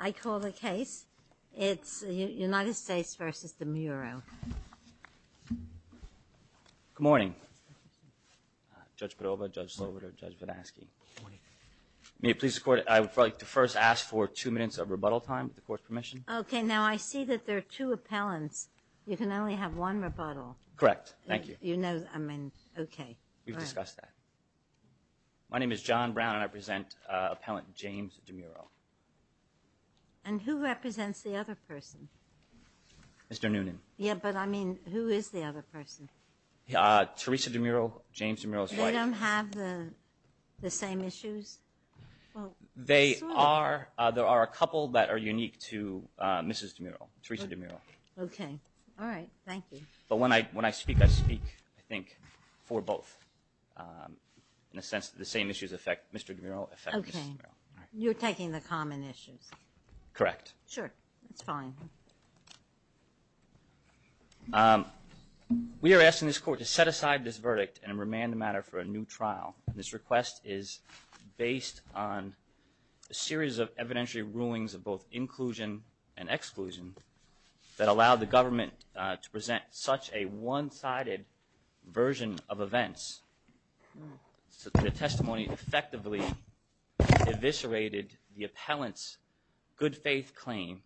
I call the case it's the United States versus Demuro. Good morning, Judge Padova, Judge Sloboda, Judge Vodansky. May it please the court I would like to first ask for two minutes of rebuttal time with the court's permission. Okay now I see that there are two appellants you can only have one rebuttal. Correct, thank you. You know I mean okay. We've discussed that. My name is John Brown and I present appellant James DeMuro. And who represents the other person? Mr. Noonan. Yeah but I mean who is the other person? Teresa DeMuro, James DeMuro's wife. They don't have the same issues? They are there are a couple that are unique to Mrs. DeMuro, Teresa DeMuro. Okay, all right, thank you. But when I when I speak I speak I think for both. In a sense the same issues affect Mr. DeMuro affect Mrs. DeMuro. Okay, you're taking the common issues. Correct. Sure, that's fine. We are asking this court to set aside this verdict and remand the matter for a new trial. This request is based on a series of evidentiary rulings of both inclusion and exclusion that allowed the government to present such a one-sided version of events. The testimony effectively eviscerated the appellants good-faith claim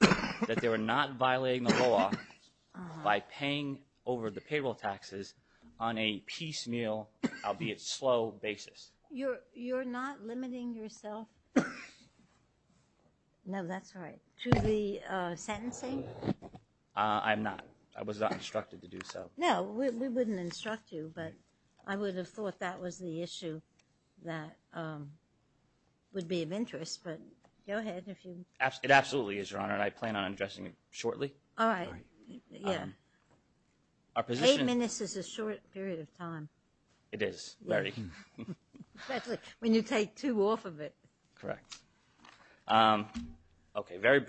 that they were not violating the law by paying over the payroll taxes on a piecemeal, albeit slow, basis. You're not limiting yourself? No, that's right. To the sentencing? I'm not. I was not instructed to do so. No, we wouldn't instruct you, but I would have thought that was the issue that would be of interest, but go ahead. It absolutely is, Your Honor, and I plan on addressing it shortly. All right, yeah. Eight minutes is a short period of time. It is, very. Especially when you take two off of it. Correct. Okay, very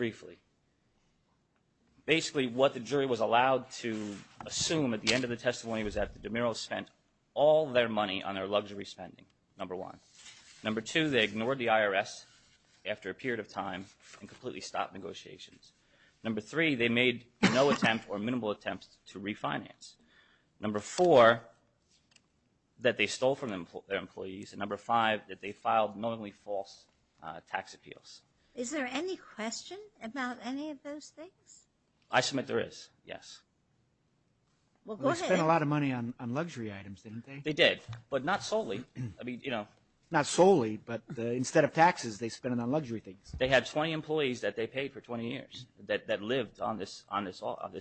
Assume at the end of the testimony was that the DeMiros spent all their money on their luxury spending, number one. Number two, they ignored the IRS after a period of time and completely stopped negotiations. Number three, they made no attempt or minimal attempts to refinance. Number four, that they stole from their employees, and number five, that they filed knowingly false tax appeals. Is there any question about any of those things? I submit there is, yes. They spent a lot of money on luxury items, didn't they? They did, but not solely. I mean, you know. Not solely, but instead of taxes, they spent it on luxury things. They had 20 employees that they paid for 20 years that lived on this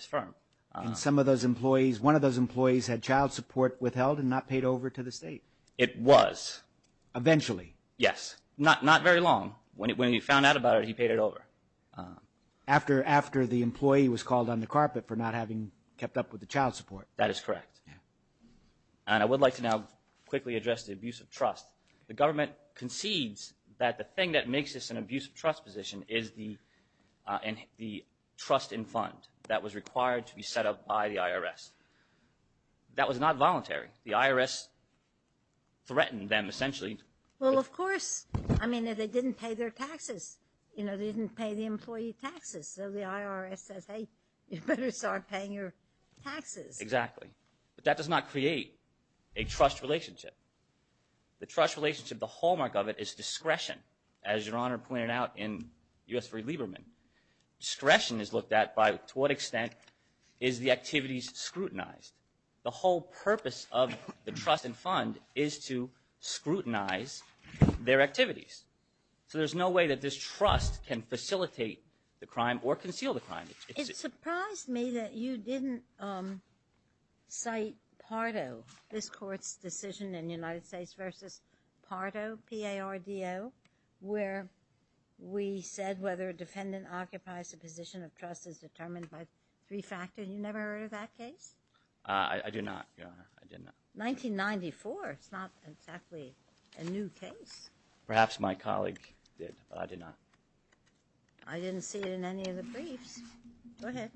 firm. And some of those employees, one of those employees, had child support withheld and not paid over to the state? It was. Eventually? Yes, not very long. When he found out about it, he paid it over. After the employee was called on the carpet for not having kept up with the child support. That is correct. And I would like to now quickly address the abuse of trust. The government concedes that the thing that makes this an abuse of trust position is the trust in fund that was required to be set up by the IRS. That was not voluntary. The IRS threatened them, essentially. Well, of course. I mean, if they didn't pay their you know, didn't pay the employee taxes, so the IRS says, hey, you better start paying your taxes. Exactly. But that does not create a trust relationship. The trust relationship, the hallmark of it, is discretion. As Your Honor pointed out in U.S. v. Lieberman, discretion is looked at by to what extent is the activities scrutinized. The whole purpose of the trust and fund is to scrutinize their activities. So there's no way that this trust can facilitate the crime or conceal the crime. It surprised me that you didn't cite Pardo, this court's decision in United States v. Pardo, P-A-R-D-O, where we said whether a defendant occupies a position of trust is determined by three factors. You never did, Your Honor. I did not. 1994. It's not exactly a new case. Perhaps my colleague did, but I did not. I didn't see it in any of the briefs. Go ahead.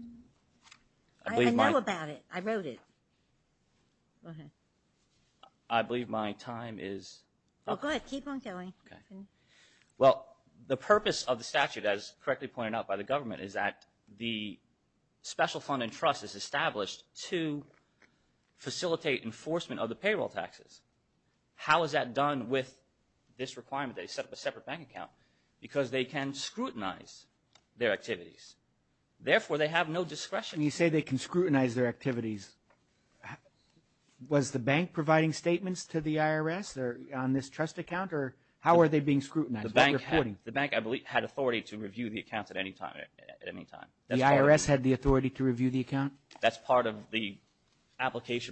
I know about it. I wrote it. Go ahead. I believe my time is up. Oh, go ahead. Keep on going. Okay. Well, the purpose of the statute, as correctly pointed out by the government, is that the special fund and trust is to facilitate enforcement of the payroll taxes. How is that done with this requirement? They set up a separate bank account because they can scrutinize their activities. Therefore, they have no discretion. You say they can scrutinize their activities. Was the bank providing statements to the IRS on this trust account, or how are they being scrutinized? The bank, I believe, had authority to review the accounts at any time. The IRS had the authority to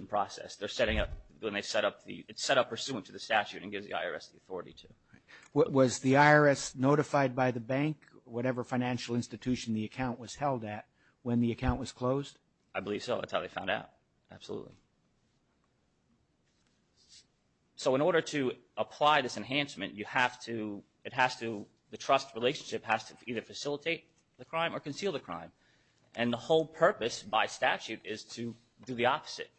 process. They're setting up, when they set up the, it's set up pursuant to the statute and gives the IRS the authority to. Was the IRS notified by the bank, whatever financial institution the account was held at, when the account was closed? I believe so. That's how they found out. Absolutely. So in order to apply this enhancement, you have to, it has to, the trust relationship has to either facilitate the crime or conceal the crime. And the whole purpose by statute is to do the opposite,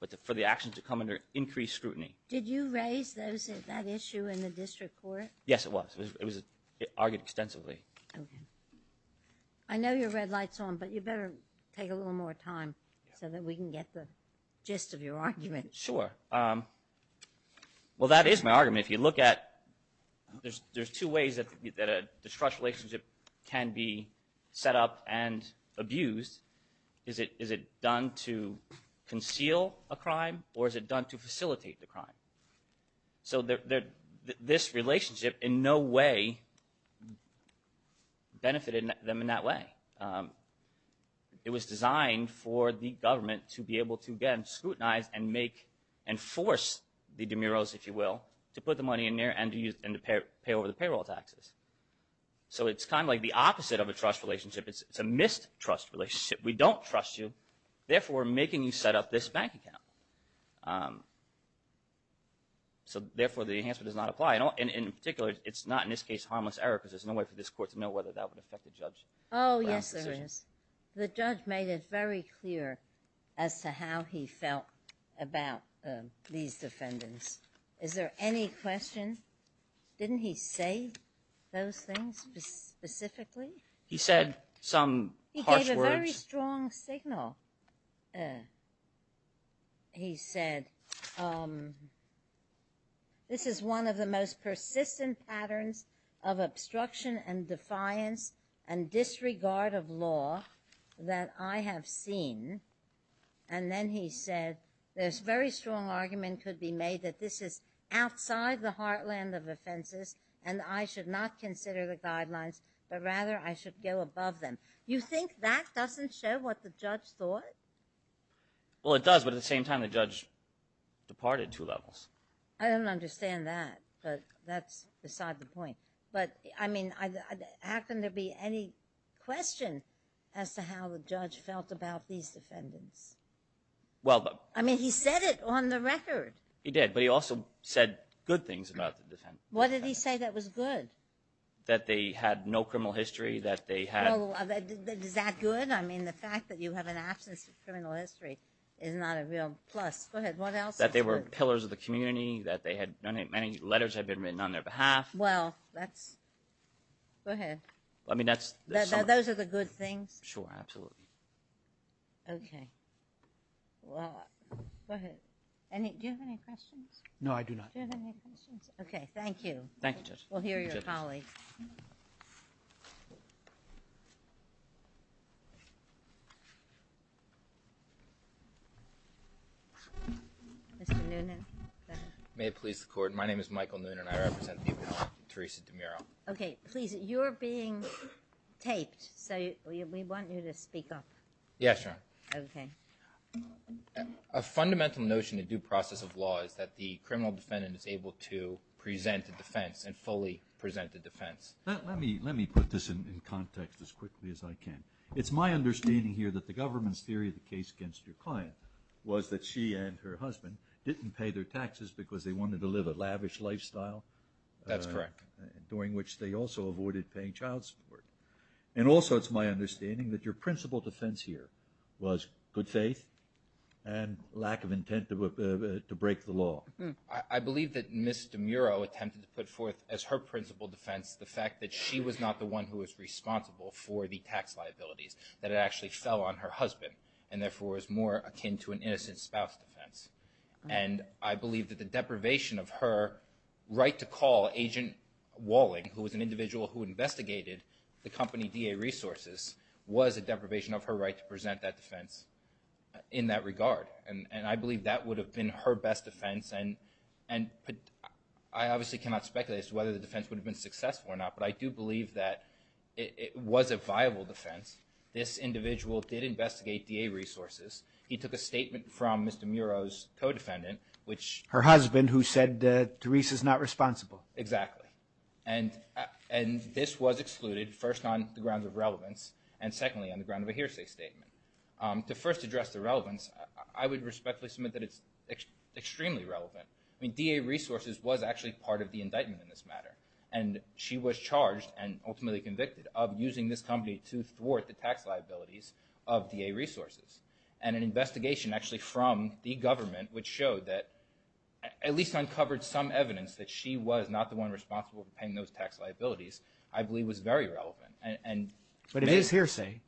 but for the action to come under increased scrutiny. Did you raise those, that issue in the district court? Yes, it was. It was argued extensively. I know your red light's on, but you better take a little more time so that we can get the gist of your argument. Sure. Well, that is my argument. If you look at, there's two ways that a trust relationship can be set up and abused. Is it, is it done to conceal a crime or is it done to facilitate the crime? So there, this relationship in no way benefited them in that way. It was designed for the government to be able to, again, scrutinize and make, enforce the demuros, if you will, to put the money in there and to use, and to pay over the payroll taxes. So it's kind of like the opposite of a trust relationship. It's a mistrust relationship. We don't trust you. Therefore, we're making you set up this bank account. So therefore, the enhancement does not apply. And in particular, it's not, in this case, harmless error because there's no way for this court to know whether that would affect the judge. Oh yes, there is. The judge made it very clear as to how he felt about these defendants. Is there any question? Didn't he say those things specifically? He said some harsh words. He gave a very strong signal. He said, this is one of the most persistent patterns of obstruction and defiance and disregard of law that I have seen. And then he said, there's very strong argument could be made that this is outside the heartland of offenses and I should not consider the guidelines, but rather I should go above them. You think that doesn't show what the judge thought? Well, it does, but at the same time the judge departed two levels. I don't understand that, but that's beside the point. But, I mean, how can there be any question as to how the judge felt about these defendants? I mean, he said it on the record. He did, but he also said good things about the defendants. What did he say that was good? That they had no criminal history, that they had... Is that good? I mean, the fact that you have an absence of criminal history is not a real plus. Go ahead, what else? That they were pillars of the community, that many letters had been written on their behalf. Well, that's... Go ahead. I mean, that's... Those are the good things? Sure, absolutely. Okay, well, go ahead. Do you have any questions? No, I do not. Do you have any questions? Okay, thank you. Thank you, Judge. We'll hear your colleagues. Mr. Noonan. May it please the Court, my name is Michael Noonan and I represent the obituary, Theresa DeMuro. Okay, please, you're being taped, so we want you to speak up. Yes, Your Honor. Okay. A fundamental notion in due process of law is that the criminal defendant is able to present a defense and fully present a defense. Let me put this in context as quickly as I can. It's my understanding here that the government's theory of the case against your client was that she and her husband didn't pay their taxes because they wanted to live a lavish lifestyle. That's correct. During which they also avoided paying child support. And also, it's my understanding that your principal defense here was good faith and lack of intent to break the law. I believe that Ms. DeMuro attempted to put forth as her principal defense the fact that she was not the one who was responsible for the tax liabilities, that it actually fell on her husband and therefore is more akin to an innocent spouse defense. And I believe that the deprivation of her right to call Agent Walling, who was an individual who investigated the company DA Resources, was a deprivation of her right to present that defense in that regard. And I believe that would have been her best defense and I obviously cannot speculate as to whether the defense would have been successful or not, but I do believe that it was a viable defense. This individual did investigate DA Resources. He took a statement from Mr. DeMuro's co-defendant, which... Her husband, who said that Teresa is not responsible. Exactly. And this was excluded, first on the grounds of relevance, and secondly on the grounds of a hearsay statement. To first address the relevance, I would respectfully submit that it's extremely relevant. I mean, DA Resources was actually part of the indictment in this matter, and she was charged and ultimately convicted of using this company to thwart the tax liabilities of DA Resources. And an investigation actually from the government, which showed that... at least uncovered some evidence that she was not the one responsible for paying those tax liabilities, I believe was very relevant. But it is hearsay.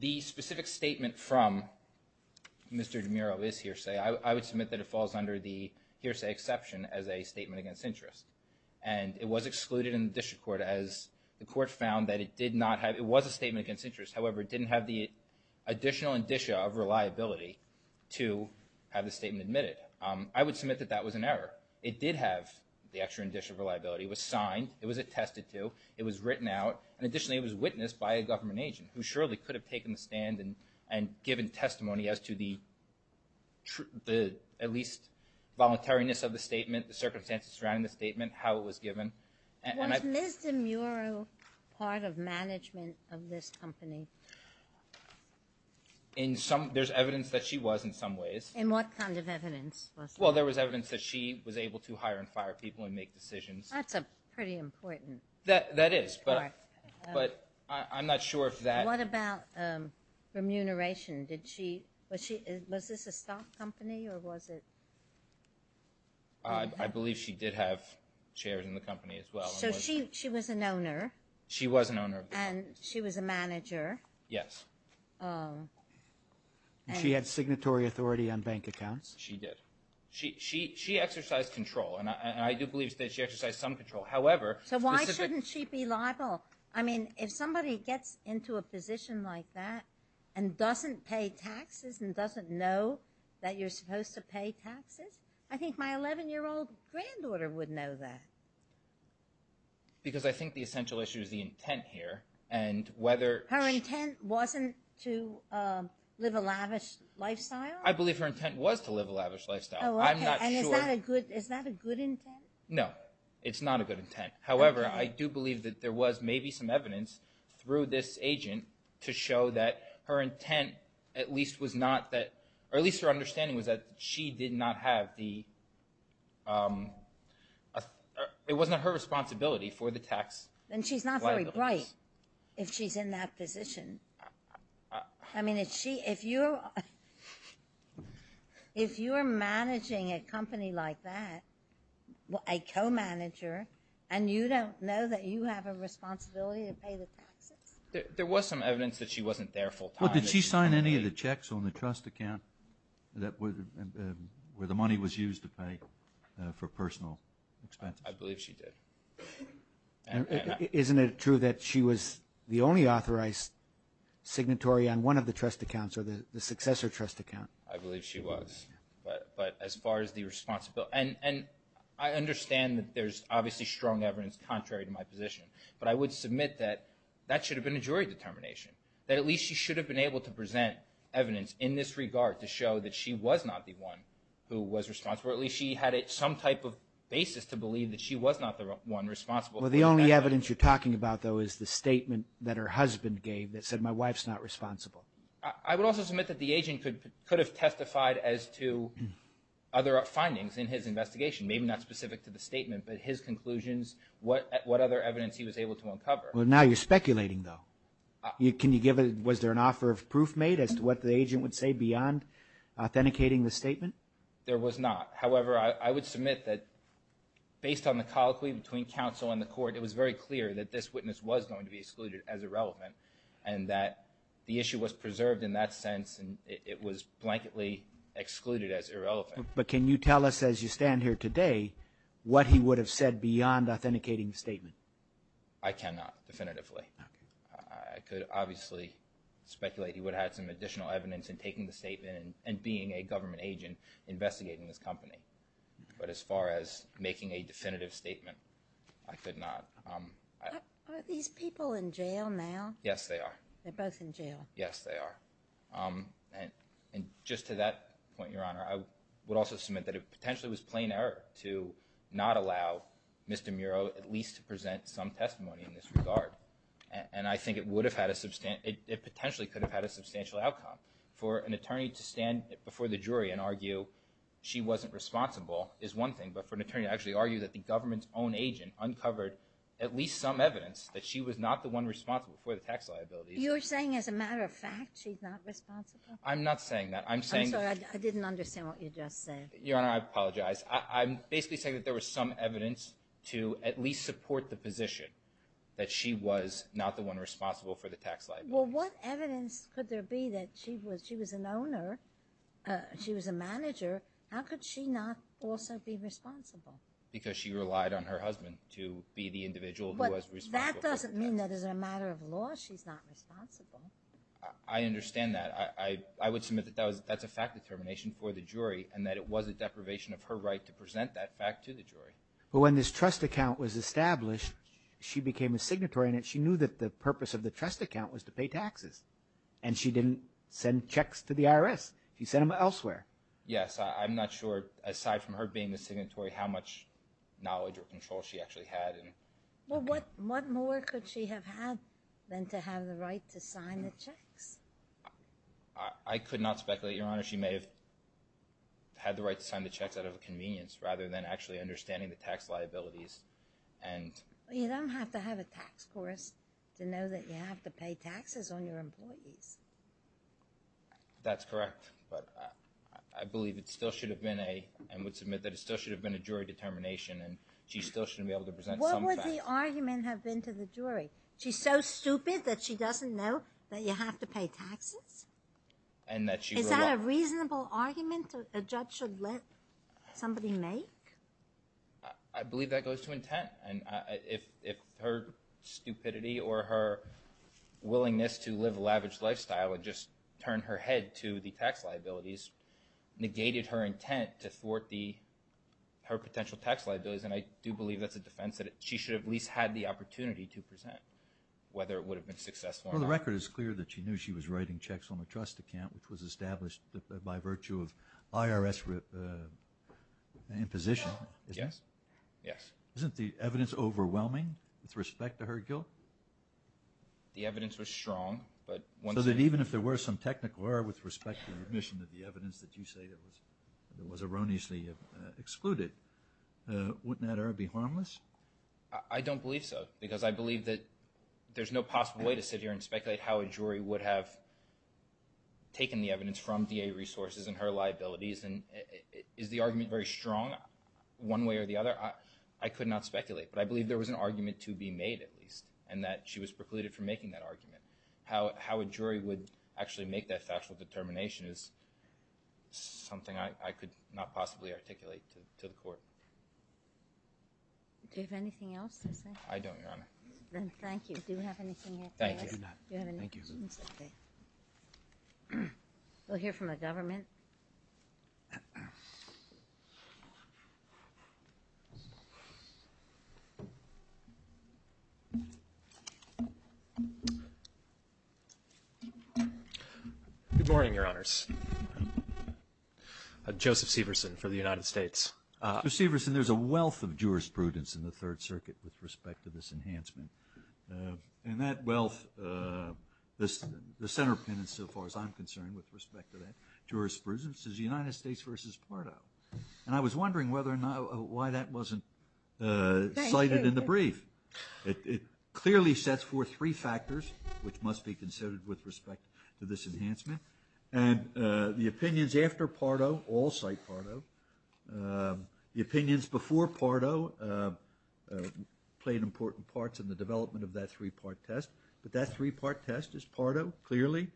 The specific statement from Mr. DeMuro is hearsay. I would submit that it falls under the hearsay exception as a statement against interest. And it was excluded in the district court as the court found that it did not have... it was a statement against interest, however, it didn't have the additional indicia of reliability to have the statement admitted. I would submit that that was an error. It did have the extra indicia of reliability. It was signed, it was attested to, it was written out, and additionally it was witnessed by a government agent, who surely could have taken the stand and given testimony as to the... at least, voluntariness of the statement, the circumstances surrounding the statement, how it was given. Was Ms. DeMuro part of management of this company? In some... there's evidence that she was in some ways. In what kind of evidence? Well, there was evidence that she was able to hire and fire people and make decisions. That's a pretty important part. That is, but I'm not sure if that... What about remuneration? Did she... was she... was this a stock company or was it... I believe she did have shares in the company as well. So she was an owner? She was an owner. And she was a manager? Yes. She had signatory authority on bank accounts? She did. She exercised control, and I do believe that she exercised some control. However... So why shouldn't she be liable? I mean, if somebody gets into a position like that and doesn't pay taxes and doesn't know that you're supposed to pay taxes, I think my 11-year-old granddaughter would know that. Because I think the essential issue is the intent here, and whether... Her intent wasn't to live a lavish lifestyle? I believe her intent was to live a lavish lifestyle. I'm not sure... And is that a good... is that a good intent? No, it's not a good intent. However, I do believe that there was maybe some evidence through this agent to show that her intent at least was not that... or at least her understanding was that she did not have the... It wasn't her responsibility for the tax liability. Then she's not very bright if she's in that position. I mean, if she... if you're... if you're managing a company like that, a co-manager, and you don't know that you have a responsibility to pay the taxes? There was some evidence that she wasn't there full-time. Well, did she sign any of the checks on the trust account that... where the money was used to pay for personal expenses? I believe she did. Isn't it true that she was the only authorized signatory on one of the trust accounts or the successor trust account? I believe she was, but as far as the responsibility... and I understand that there's obviously strong evidence contrary to my position, but I would submit that that should have been a jury determination. That at least she should have been able to present evidence in this regard to show that she was not the one who was responsible. Or at least she had some type of basis to believe that she was not the one responsible. Well, the only evidence you're talking about, though, is the statement that her husband gave that said, my wife's not responsible. I would also submit that the agent could have testified as to other findings in his investigation. Maybe not specific to the statement, but his conclusions, what other evidence he was able to uncover. Well, now you're speculating, though. Can you give... was there an offer of proof made as to what the agent would say beyond authenticating the statement? There was not. However, I would submit that, based on the colloquy between counsel and the court, it was very clear that this witness was going to be excluded as irrelevant. And that the issue was preserved in that sense, and it was blanketly excluded as irrelevant. But can you tell us, as you stand here today, what he would have said beyond authenticating the statement? I cannot, definitively. Okay. I could obviously speculate he would have had some additional evidence in taking the statement and being a government agent investigating this company. But as far as making a definitive statement, I could not. Are these people in jail now? Yes, they are. They're both in jail. Yes, they are. And just to that point, Your Honor, I would also submit that it potentially was plain error to not allow Mr. Muro at least to present some testimony in this regard. And I think it potentially could have had a substantial outcome. For an attorney to stand before the jury and argue she wasn't responsible is one thing. But for an attorney to actually argue that the government's own agent uncovered at least some evidence that she was not the one responsible for the tax liabilities— You're saying, as a matter of fact, she's not responsible? I'm not saying that. I'm saying— I'm sorry. I didn't understand what you just said. Your Honor, I apologize. I'm basically saying that there was some evidence to at least support the position that she was not the one responsible for the tax liabilities. Well, what evidence could there be that she was an owner, she was a manager? How could she not also be responsible? Because she relied on her husband to be the individual who was responsible for the tax liabilities. But that doesn't mean that as a matter of law she's not responsible. I understand that. I would submit that that's a fact determination for the jury and that it was a deprivation of her right to present that fact to the jury. But when this trust account was established, she became a signatory, and she knew that the purpose of the trust account was to pay taxes. And she didn't send checks to the IRS. She sent them elsewhere. Yes. I'm not sure, aside from her being a signatory, how much knowledge or control she actually had. Well, what more could she have had than to have the right to sign the checks? I could not speculate, Your Honor. She may have had the right to sign the checks out of convenience, rather than actually understanding the tax liabilities. You don't have to have a tax course to know that you have to pay taxes on your employees. That's correct. But I believe it still should have been a, and would submit that it still should have been a jury determination, and she still shouldn't be able to present some facts. What would the argument have been to the jury? She's so stupid that she doesn't know that you have to pay taxes? And that she would not? Is that a reasonable argument a judge should let somebody make? I believe that goes to intent. And if her stupidity or her willingness to live a lavish lifestyle and just turn her head to the tax liabilities negated her intent to thwart the, her potential tax liabilities, and I do believe that's a defense that she should have at least had the opportunity to present, whether it would have been successful or not. The record is clear that she knew she was writing checks on a trust account, which was established by virtue of IRS imposition. Yes. Isn't the evidence overwhelming with respect to her guilt? The evidence was strong, but... So that even if there were some technical error with respect to the admission of the evidence that you say that was erroneously excluded, wouldn't that error be harmless? I don't believe so, because I believe that there's no possible way to sit here and speculate how a jury would have taken the evidence from DA resources and her liabilities. And is the argument very strong one way or the other? I could not speculate, but I believe there was an argument to be made at least, and that she was precluded from making that argument. How a jury would actually make that factual determination is something I could not possibly articulate to the court. Do you have anything else to say? I don't, Your Honor. Thank you. Do you have anything else? Thank you. We'll hear from the government. Good morning, Your Honors. Joseph Severson for the United States. Mr. Severson, there's a wealth of jurisprudence in the Third Circuit with respect to this and the center penance so far as I'm concerned with respect to that jurisprudence is United States versus Pardo. And I was wondering whether or not why that wasn't cited in the brief. It clearly sets forth three factors which must be considered with respect to this enhancement. And the opinions after Pardo all cite Pardo. The opinions before Pardo played important parts in the development of that three-part test. But that three-part test is Pardo, clearly.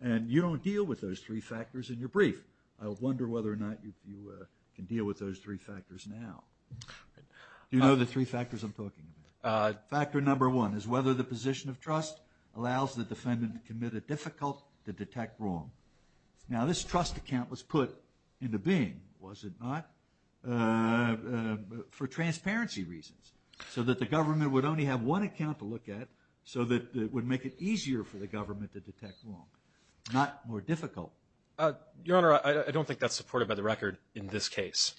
And you don't deal with those three factors in your brief. I wonder whether or not you can deal with those three factors now. You know the three factors I'm talking about? Factor number one is whether the position of trust allows the defendant to commit a difficult to detect wrong. Now this trust account was put into being, was it not, for transparency reasons. So that the government would only have one account to look at so that it would make it easier for the government to detect wrong. Not more difficult. Your Honor, I don't think that's supported by the record in this case.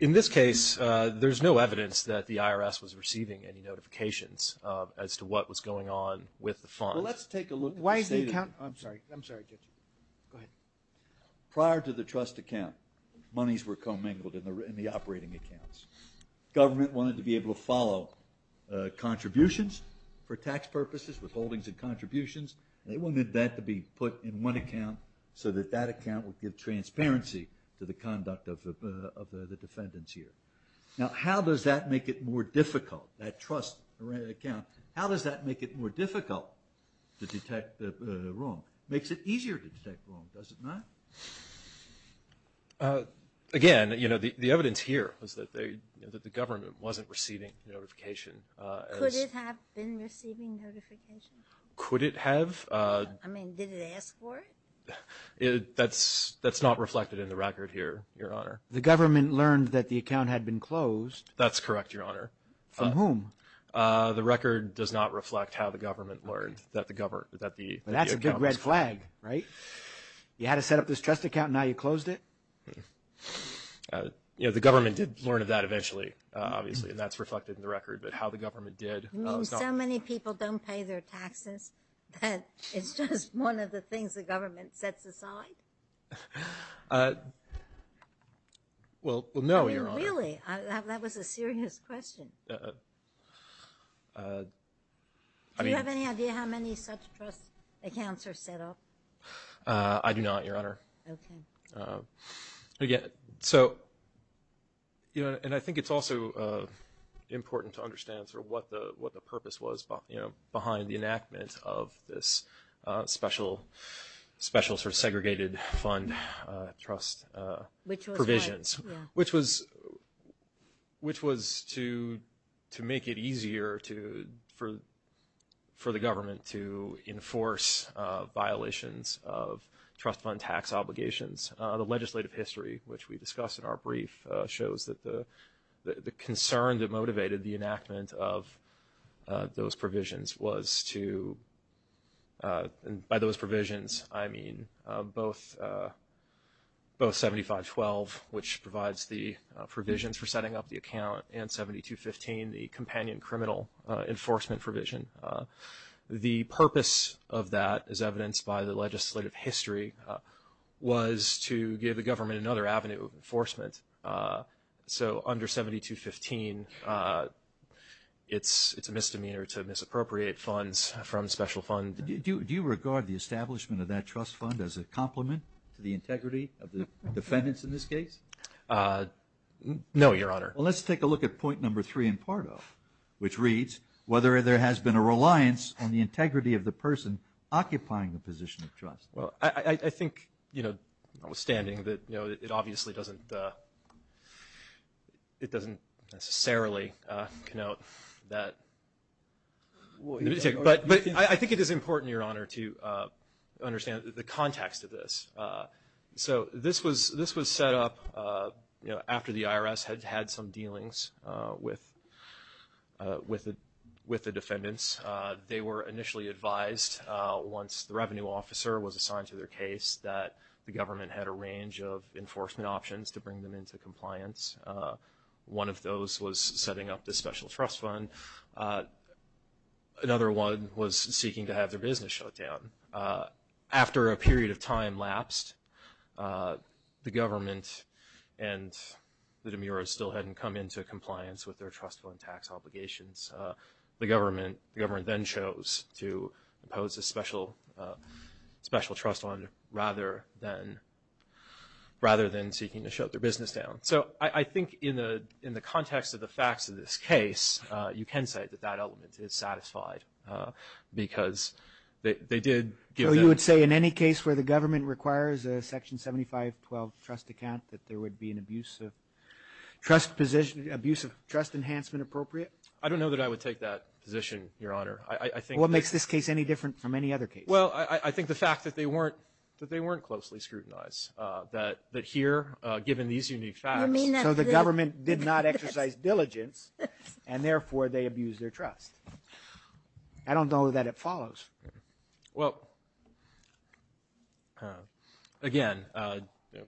In this case, there's no evidence that the IRS was receiving any notifications as to what was going on with the funds. Let's take a look. Why is the account, I'm sorry, I'm sorry Judge, go ahead. Prior to the trust account, monies were commingled in the operating accounts. Government wanted to be able to follow contributions for tax purposes, withholdings and contributions. They wanted that to be put in one account so that that account would give transparency to the conduct of the defendant's year. Now how does that make it more difficult, that trust account? How does that make it more difficult to detect wrong? Makes it easier to detect wrong, does it not? Again, you know, the evidence here was that they, that the government wasn't receiving notification. Could it have been receiving notification? Could it have? I mean, did it ask for it? That's, that's not reflected in the record here, Your Honor. The government learned that the account had been closed. That's correct, Your Honor. From whom? The record does not reflect how the government learned that the government, That's a big red flag, right? You had to set up this trust account, now you closed it? You know, the government did learn of that eventually, obviously, and that's reflected in the record. But how the government did, You mean so many people don't pay their taxes, that it's just one of the things the government sets aside? Well, no, Your Honor. Really? That was a serious question. Do you have any idea how many such trust accounts are set up? I do not, Your Honor. Okay. Again, so, you know, and I think it's also important to understand sort of what the, what the purpose was, you know, behind the enactment of this special, special sort of segregated fund trust provisions. Which was, which was to, to make it easier to, for, for the government to enforce violations of trust fund tax obligations. The legislative history, which we discussed in our brief, shows that the, the concern that motivated the enactment of those provisions was to, and by those provisions, I mean both, both 7512, which provides the provisions for setting up the account, and 7215, the companion criminal enforcement provision. The purpose of that, as evidenced by the legislative history, was to give the government another avenue of enforcement. So under 7215, it's, it's a misdemeanor to misappropriate funds from special fund. Do you regard the establishment of that trust fund as a complement to the integrity of the defendants in this case? Uh, no, your honor. Well, let's take a look at point number three in Pardo, which reads, whether there has been a reliance on the integrity of the person occupying the position of trust. Well, I, I think, you know, notwithstanding that, you know, it obviously doesn't, it doesn't necessarily, uh, connote that. But, but I, I think it is important, your honor, to, uh, the context of this. So this was, this was set up, uh, you know, after the IRS had had some dealings, uh, with, uh, with the, with the defendants. They were initially advised, uh, once the revenue officer was assigned to their case, that the government had a range of enforcement options to bring them into compliance. One of those was setting up this special trust fund. Another one was seeking to have their business shut down. After a period of time lapsed, uh, the government and the demurers still hadn't come into compliance with their trust fund tax obligations. Uh, the government, the government then chose to impose a special, uh, special trust fund rather than, rather than seeking to shut their business down. So I, I think in the, in the context of the facts of this case, uh, you can say that that element is satisfied, uh, because they, they did give them. In any case where the government requires a section 7512 trust account that there would be an abuse of trust position, abuse of trust enhancement appropriate? I don't know that I would take that position, Your Honor. I, I think. What makes this case any different from any other case? Well, I, I think the fact that they weren't, that they weren't closely scrutinized, uh, that, that here, uh, given these unique facts. So the government did not exercise diligence and therefore they abused their trust. I don't know that it follows. Well, uh, again, uh, you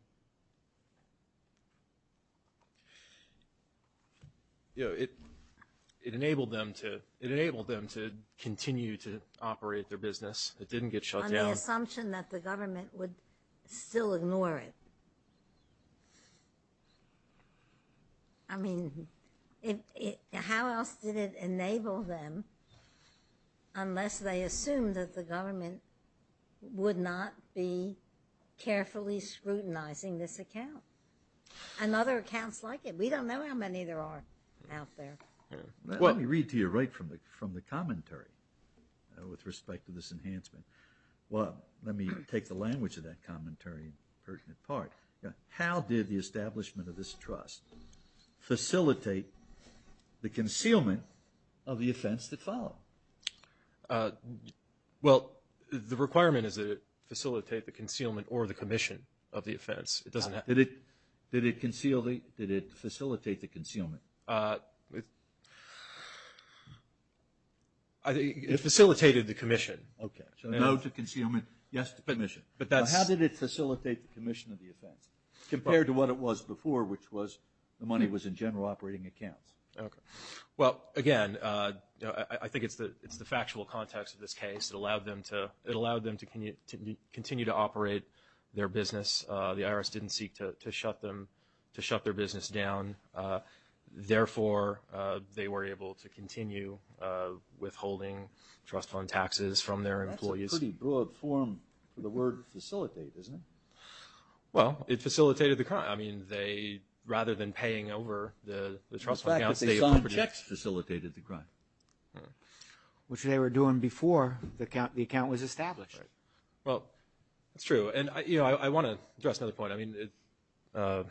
know, you know, it, it enabled them to, it enabled them to continue to operate their business. It didn't get shut down. On the assumption that the government would still ignore it. I mean, it, it, how else did it enable them unless they assumed that the government would not be carefully scrutinizing this account? And other accounts like it. We don't know how many there are out there. Let me read to you right from the, from the commentary, uh, with respect to this enhancement. Well, let me take the language of that commentary in pertinent part. How did the establishment of this trust facilitate the concealment of the offense that followed? Uh, well, the requirement is that it facilitate the concealment or the commission of the offense. It doesn't have... Did it, did it conceal the, did it facilitate the concealment? Uh, it, I think it facilitated the commission. Okay. So no to concealment, yes to commission. But that's... Facilitate the commission of the offense. Compared to what it was before, which was the money was in general operating accounts. Okay. Well, again, uh, I, I think it's the, it's the factual context of this case. It allowed them to, it allowed them to continue to operate their business. Uh, the IRS didn't seek to, to shut them, to shut their business down. Uh, therefore, uh, they were able to continue, uh, withholding trust fund taxes from their employees. That's a pretty broad form for the word facilitate, isn't it? Well, it facilitated the crime. I mean, they, rather than paying over the, the trust fund accounts... The fact that they signed checks facilitated the crime. Which they were doing before the account, the account was established. Right. Well, that's true. And I, you know, I, I want to address another point. I mean, it, uh,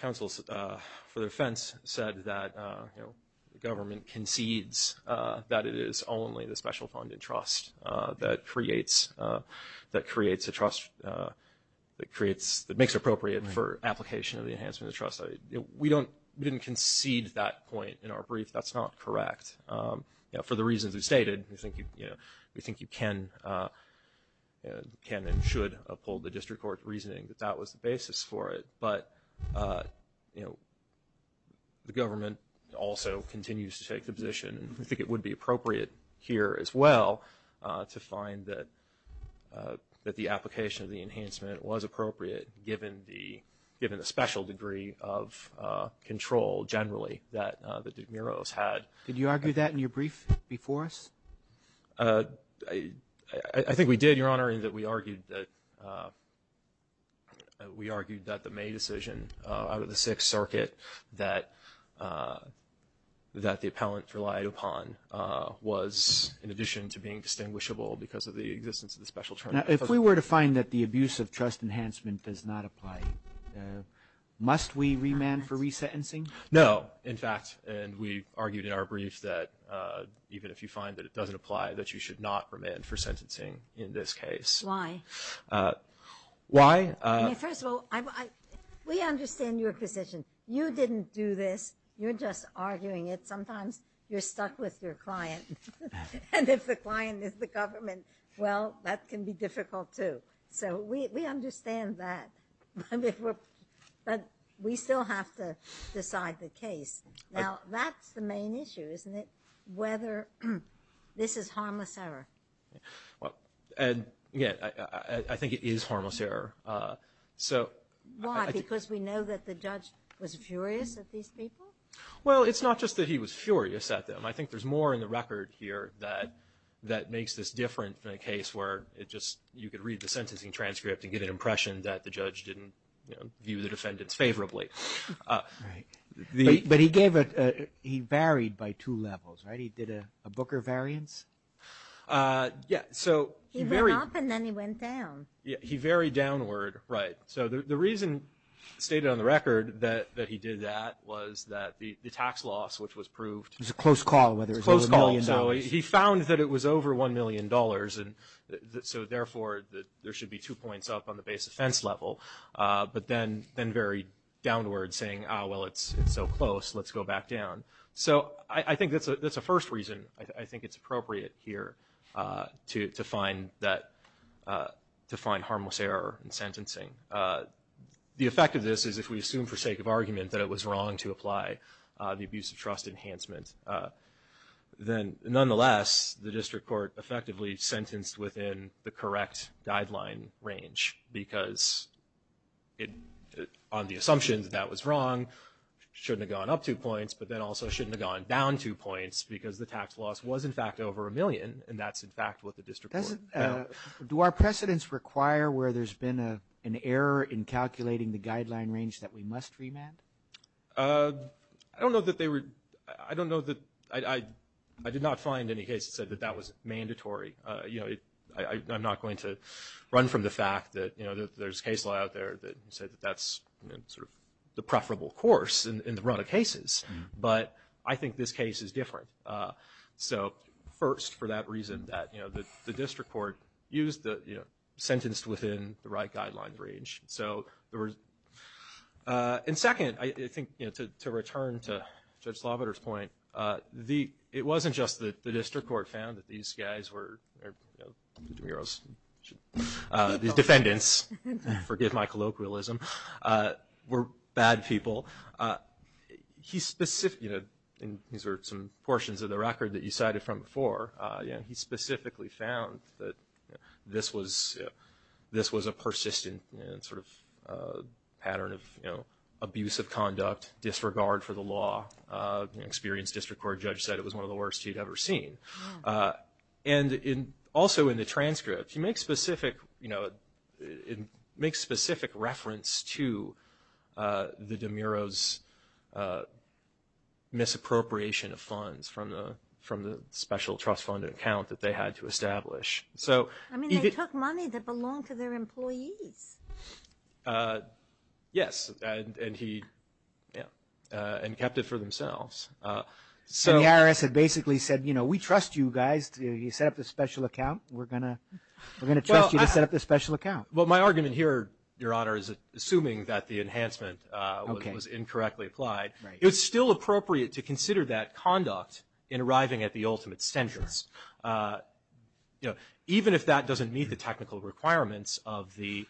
counsels, uh, for their offense said that, uh, you know, the government concedes, uh, that it is only the special funded trust, uh, that creates, uh, that creates a trust, uh, that creates, that makes it appropriate for application of the enhancement of trust. I, you know, we don't, we didn't concede that point in our brief. That's not correct. Um, you know, for the reasons we stated, we think you, you know, we think you can, uh, can and should uphold the district court's reasoning that that was the basis for it. But, uh, you know, the government also continues to take the position, and we think it would be appropriate here as well, uh, to find that, uh, that the application of the enhancement was appropriate given the, given the special degree of, uh, control generally that, uh, that DeMuros had. Did you argue that in your brief before us? Uh, I, I think we did, Your Honor, in that we argued that, uh, that we argued that the May decision, uh, out of the Sixth Circuit that, uh, that the appellant relied upon, uh, was in addition to being distinguishable because of the existence of the special term. Now, if we were to find that the abuse of trust enhancement does not apply, must we remand for resentencing? No. In fact, and we argued in our brief that, uh, even if you find that it doesn't apply, that you should not remand for sentencing in this case. Why? I mean, first of all, I, I, we understand your position. You didn't do this. You're just arguing it. Sometimes you're stuck with your client, and if the client is the government, well, that can be difficult too. So, we, we understand that, but if we're, but we still have to decide the case. Now, that's the main issue, isn't it? Whether this is harmless error. Well, and, yeah, I, I, I think it is harmless error. Uh, so. Why? Because we know that the judge was furious at these people? Well, it's not just that he was furious at them. I think there's more in the record here that, that makes this different than a case where it just, you could read the sentencing transcript and get an impression that the judge didn't, you know, view the defendants favorably. Right. But he gave a, he varied by two levels, right? He did a, a Booker variance? Uh, yeah, so. He went up and then he went down. Yeah, he varied downward, right. So, the, the reason stated on the record that, that he did that was that the, the tax loss, which was proved. It was a close call, whether it was over a million dollars. It was a close call. So, he found that it was over one million dollars, and so, therefore, that there should be two points up on the base offense level. Uh, but then, then varied downward saying, ah, well, it's, it's so close, let's go back down. So, I, I think that's a, that's a first reason. I, I think it's appropriate here, uh, to, to find that, uh, to find harmless error in sentencing. Uh, the effect of this is if we assume for sake of argument that it was wrong to apply, uh, the abuse of trust enhancement, uh, then nonetheless, the district court effectively sentenced within the correct guideline range because it, on the assumption that that was wrong, shouldn't have gone up two points, but then also shouldn't have gone down two points. So, the loss was, in fact, over a million, and that's, in fact, what the district court found. Does it, uh, do our precedents require where there's been a, an error in calculating the guideline range that we must remand? Uh, I don't know that they were, I don't know that, I, I, I did not find any case that said that that was mandatory. Uh, you know, I, I, I'm not going to run from the fact that, you know, that there's case law out there that said that that's, you know, sort of the preferable course in, in the run of cases. But I think this case is different. Uh, so, first, for that reason that, you know, the, the district court used the, you know, sentenced within the right guideline range. So, there was, uh, and second, I, I think, you know, to, to return to Judge Slavater's point, uh, the, it wasn't just that the district court found that these guys were, you know, the DeMuros, uh, the defendants, forgive my colloquialism, uh, were bad people. Uh, he specifically, you know, and these are some portions of the record that you cited from before, uh, you know, he specifically found that, you know, this was, uh, this was a persistent, uh, sort of, uh, pattern of, you know, abuse of conduct, disregard for the law. Uh, an experienced district court judge said it was one of the worst he'd ever seen. Uh, and in, also in the transcript, he makes specific, you know, it, it makes specific reference to, uh, the DeMuros, uh, misappropriation of funds from the, from the special trust funded account that they had to establish. So, I mean, they took money that belonged to their employees. Uh, yes, and, and he, yeah, uh, and kept it for themselves. Uh, so, and the IRS had basically said, you know, we trust you guys. You set up this special account. We're gonna, we're gonna trust you to set up this special account. Well, my argument here, Your Honor, is assuming that the enhancement, uh, was incorrectly applied. It's still appropriate to consider that conduct in arriving at the ultimate sentence. Uh, you know, even if that doesn't meet the technical requirements of the,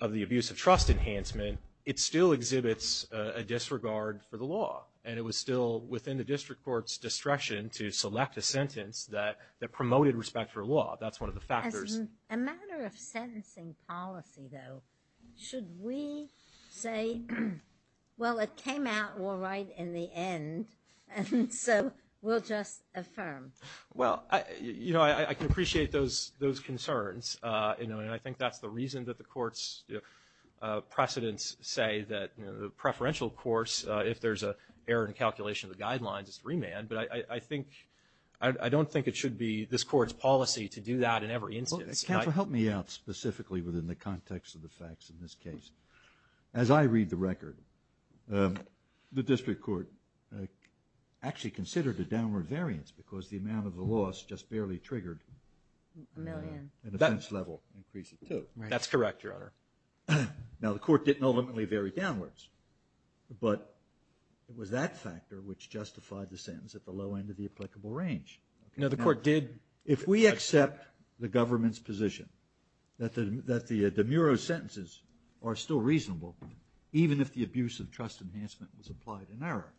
of the abuse of trust enhancement, it still exhibits a, a disregard for the law. And it was still within the district court's discretion to select a sentence that, that promoted respect for law. That's one of the factors. A matter of sentencing policy, though, should we say, well, it came out all right in the end, and so we'll just affirm? Well, I, you know, I, I can appreciate those, those concerns, uh, you know, and I think that's the reason that the court's, uh, precedents say that, you know, the preferential course, uh, if there's a error in calculation of the guidelines, it's remand. But I, I, I think, I, I don't think it should be this court's policy to do that in every instance. Counsel, help me out specifically within the context of the facts in this case. As I read the record, um, the district court, uh, actually considered a downward variance because the amount of the loss just barely triggered, uh, an offense level increase of two. That's correct, Your Honor. Now, the court didn't ultimately vary downwards, but it was that factor which justified the sentence at the low end of the applicable range. Now, the court did, if we accept the government's position that the, that the, uh, demuro sentences are still reasonable, even if the abuse of trust enhancement was applied in error,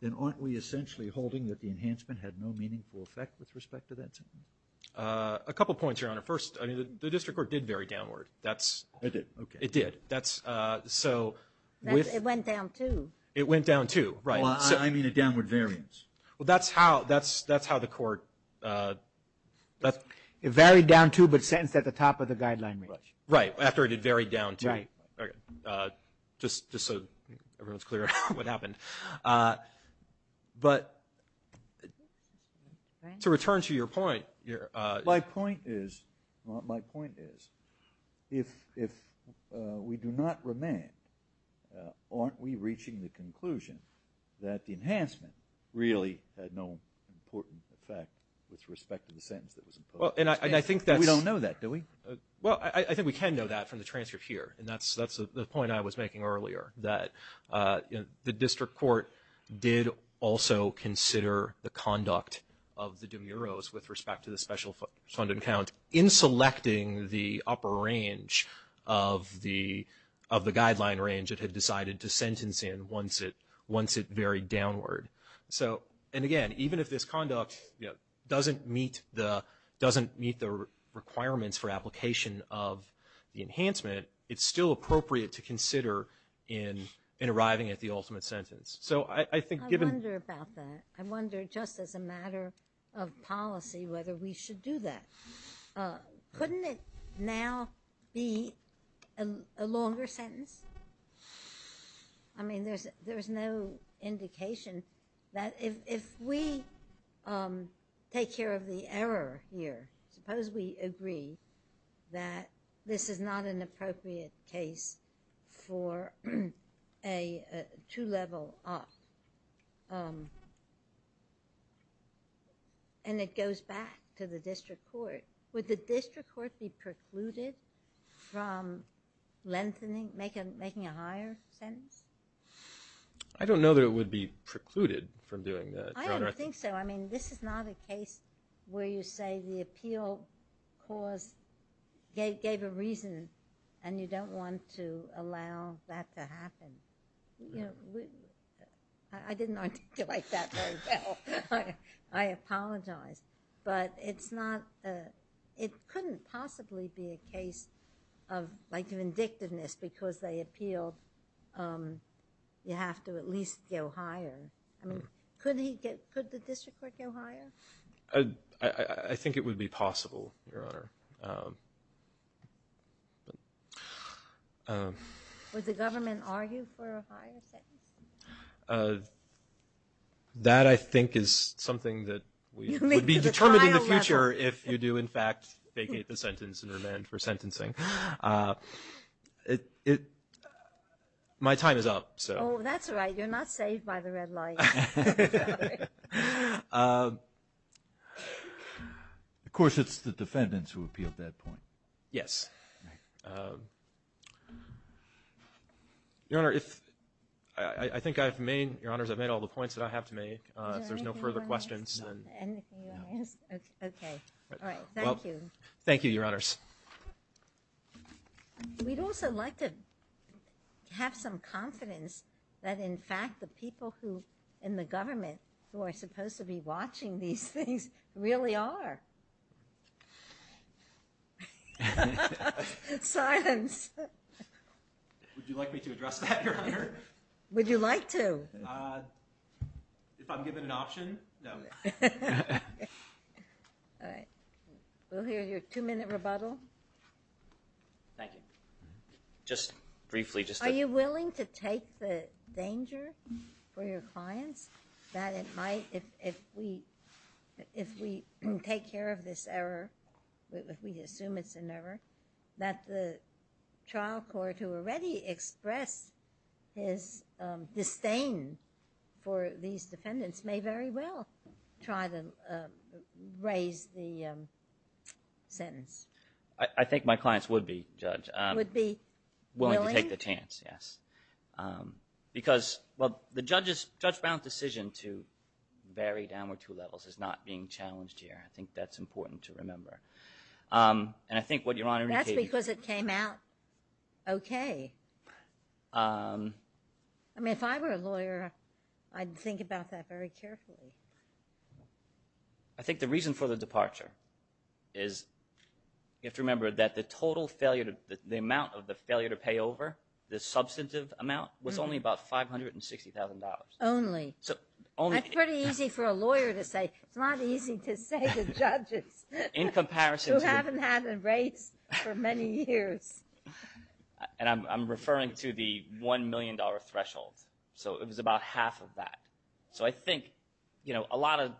then aren't we essentially holding that the enhancement had no meaningful effect with respect to that sentence? Uh, a couple points, Your Honor. First, I mean, the, the district court did vary downward. That's... It did. Okay. It did. That's, uh, so... That's, it went down two. It went down two, right. Well, I, I mean a downward variance. Well, that's how, that's, that's how the court, uh, that's... It varied down two, but sentenced at the top of the guideline range. Right, after it had varied down two. Right. Okay, uh, just, just so everyone's clear on what happened. Uh, but to return to your point, your, uh... My point is, my point is, if, if, uh, we do not remain, uh, aren't we reaching the conclusion that the enhancement really had no important effect with respect to the sentence that was imposed? Well, and I, and I think that's... We don't know that, do we? Well, I, I think we can know that from the transcript here. And that's, that's the point I was making earlier, that, uh, you know, the district court did also consider the conduct of the de muros with respect to the special fund account in selecting the upper range of the, of the guideline range it had decided to sentence in once it, once it varied downward. So, and again, even if this conduct, you know, doesn't meet the, doesn't meet the requirements for application of the enhancement, it's still appropriate to consider in, in arriving at the ultimate sentence. So, I, I think given... I wonder about that. I wonder just as a matter of policy whether we should do that. Uh, couldn't it now be a, a longer sentence? I mean, there's, there's no indication that if, if we, um, take care of the error here, suppose we agree that this is not an appropriate case for a, a two-level opt, um, and it goes back to the district court. Would the district court be precluded from lengthening, making, making a higher sentence? I don't know that it would be precluded from doing that, Your Honor. I don't think so. I mean, this is not a case where you say the appeal cause gave, gave a reason and you don't want to allow that to happen. You know, we, I, I didn't articulate that very well. I apologize. But it's not, uh, it couldn't possibly be a case of like vindictiveness because they appealed, um, you have to at least go higher. I mean, couldn't he get, could the district court go higher? Uh, I, I, I think it would be possible, Your Honor. Um, um... Would the government argue for a higher sentence? Uh, that I think is something that we would be determined in the future if you do, in fact, vacate the sentence and remand for sentencing. Uh, it, it, my time is up, so... Oh, that's all right. You're not saved by the red light. Um... Of course, it's the defendants who appealed that point. Yes. Um... Your Honor, if, I, I think I've made, Your Honors, I've made all the points that I have to make. Uh, if there's no further questions, then... Is there anything you want to add, anything you want to add? Okay. All right. Thank you. Thank you, Your Honors. We'd also like to have some confidence that, in fact, the people who, in the government, who are supposed to be watching these things really are. Uh... Silence. Would you like me to address that, Your Honor? Would you like to? Uh, if I'm given an option, no. All right. We'll hear your two-minute rebuttal. Thank you. Just briefly, just to... the danger for your clients that it might, if, if we, if we take care of this error, if we assume it's an error, that the trial court who already expressed his, um, disdain for these defendants may very well try to, um, raise the, um, sentence. I, I think my clients would be, Judge. Would be willing? Willing to take the chance, yes. Um, because, well, the judge's, judge-bound decision to vary downward two levels is not being challenged here. I think that's important to remember. Um, and I think what Your Honor indicated... That's because it came out okay. Um... I mean, if I were a lawyer, I'd think about that very carefully. I think the reason for the departure is you have to remember that the total failure to, the amount of the failure to pay over, the substantive amount, was only about $560,000. Only. So only... That's pretty easy for a lawyer to say. It's not easy to say to judges... In comparison to... Who haven't had a race for many years. And I'm, I'm referring to the $1 million threshold. So it was about half of that. So I think, you know, a lot of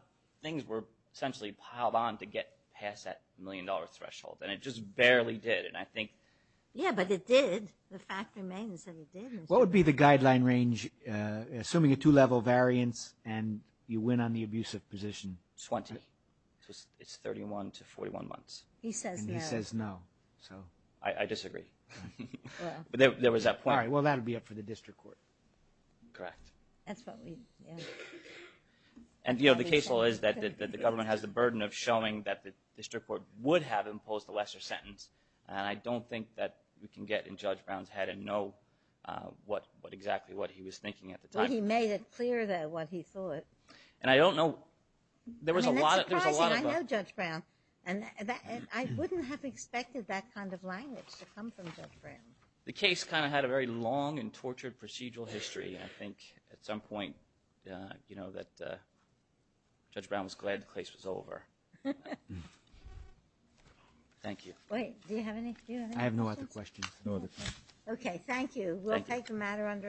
things were essentially piled on to get past that $1 million threshold. And it just barely did. Yeah, but it did. The fact remains that it did. What would be the guideline range, assuming a two-level variance, and you win on the abusive position? 20. It's 31 to 41 months. He says no. He says no. So... I disagree. But there was that point... All right, well, that would be up for the district court. Correct. That's what we... And, you know, the case law is that the government has the burden of showing that the district would have imposed a lesser sentence. And I don't think that we can get in Judge Brown's head and know what exactly what he was thinking at the time. He made it clear, though, what he thought. And I don't know... There was a lot of... I mean, that's surprising. I know Judge Brown. And I wouldn't have expected that kind of language to come from Judge Brown. The case kind of had a very long and tortured procedural history. And I think at some point, you know, that Judge Brown was glad the case was over. Thank you. Wait. Do you have any... I have no other questions. No other questions. Okay. Thank you. We'll take a matter under advisement.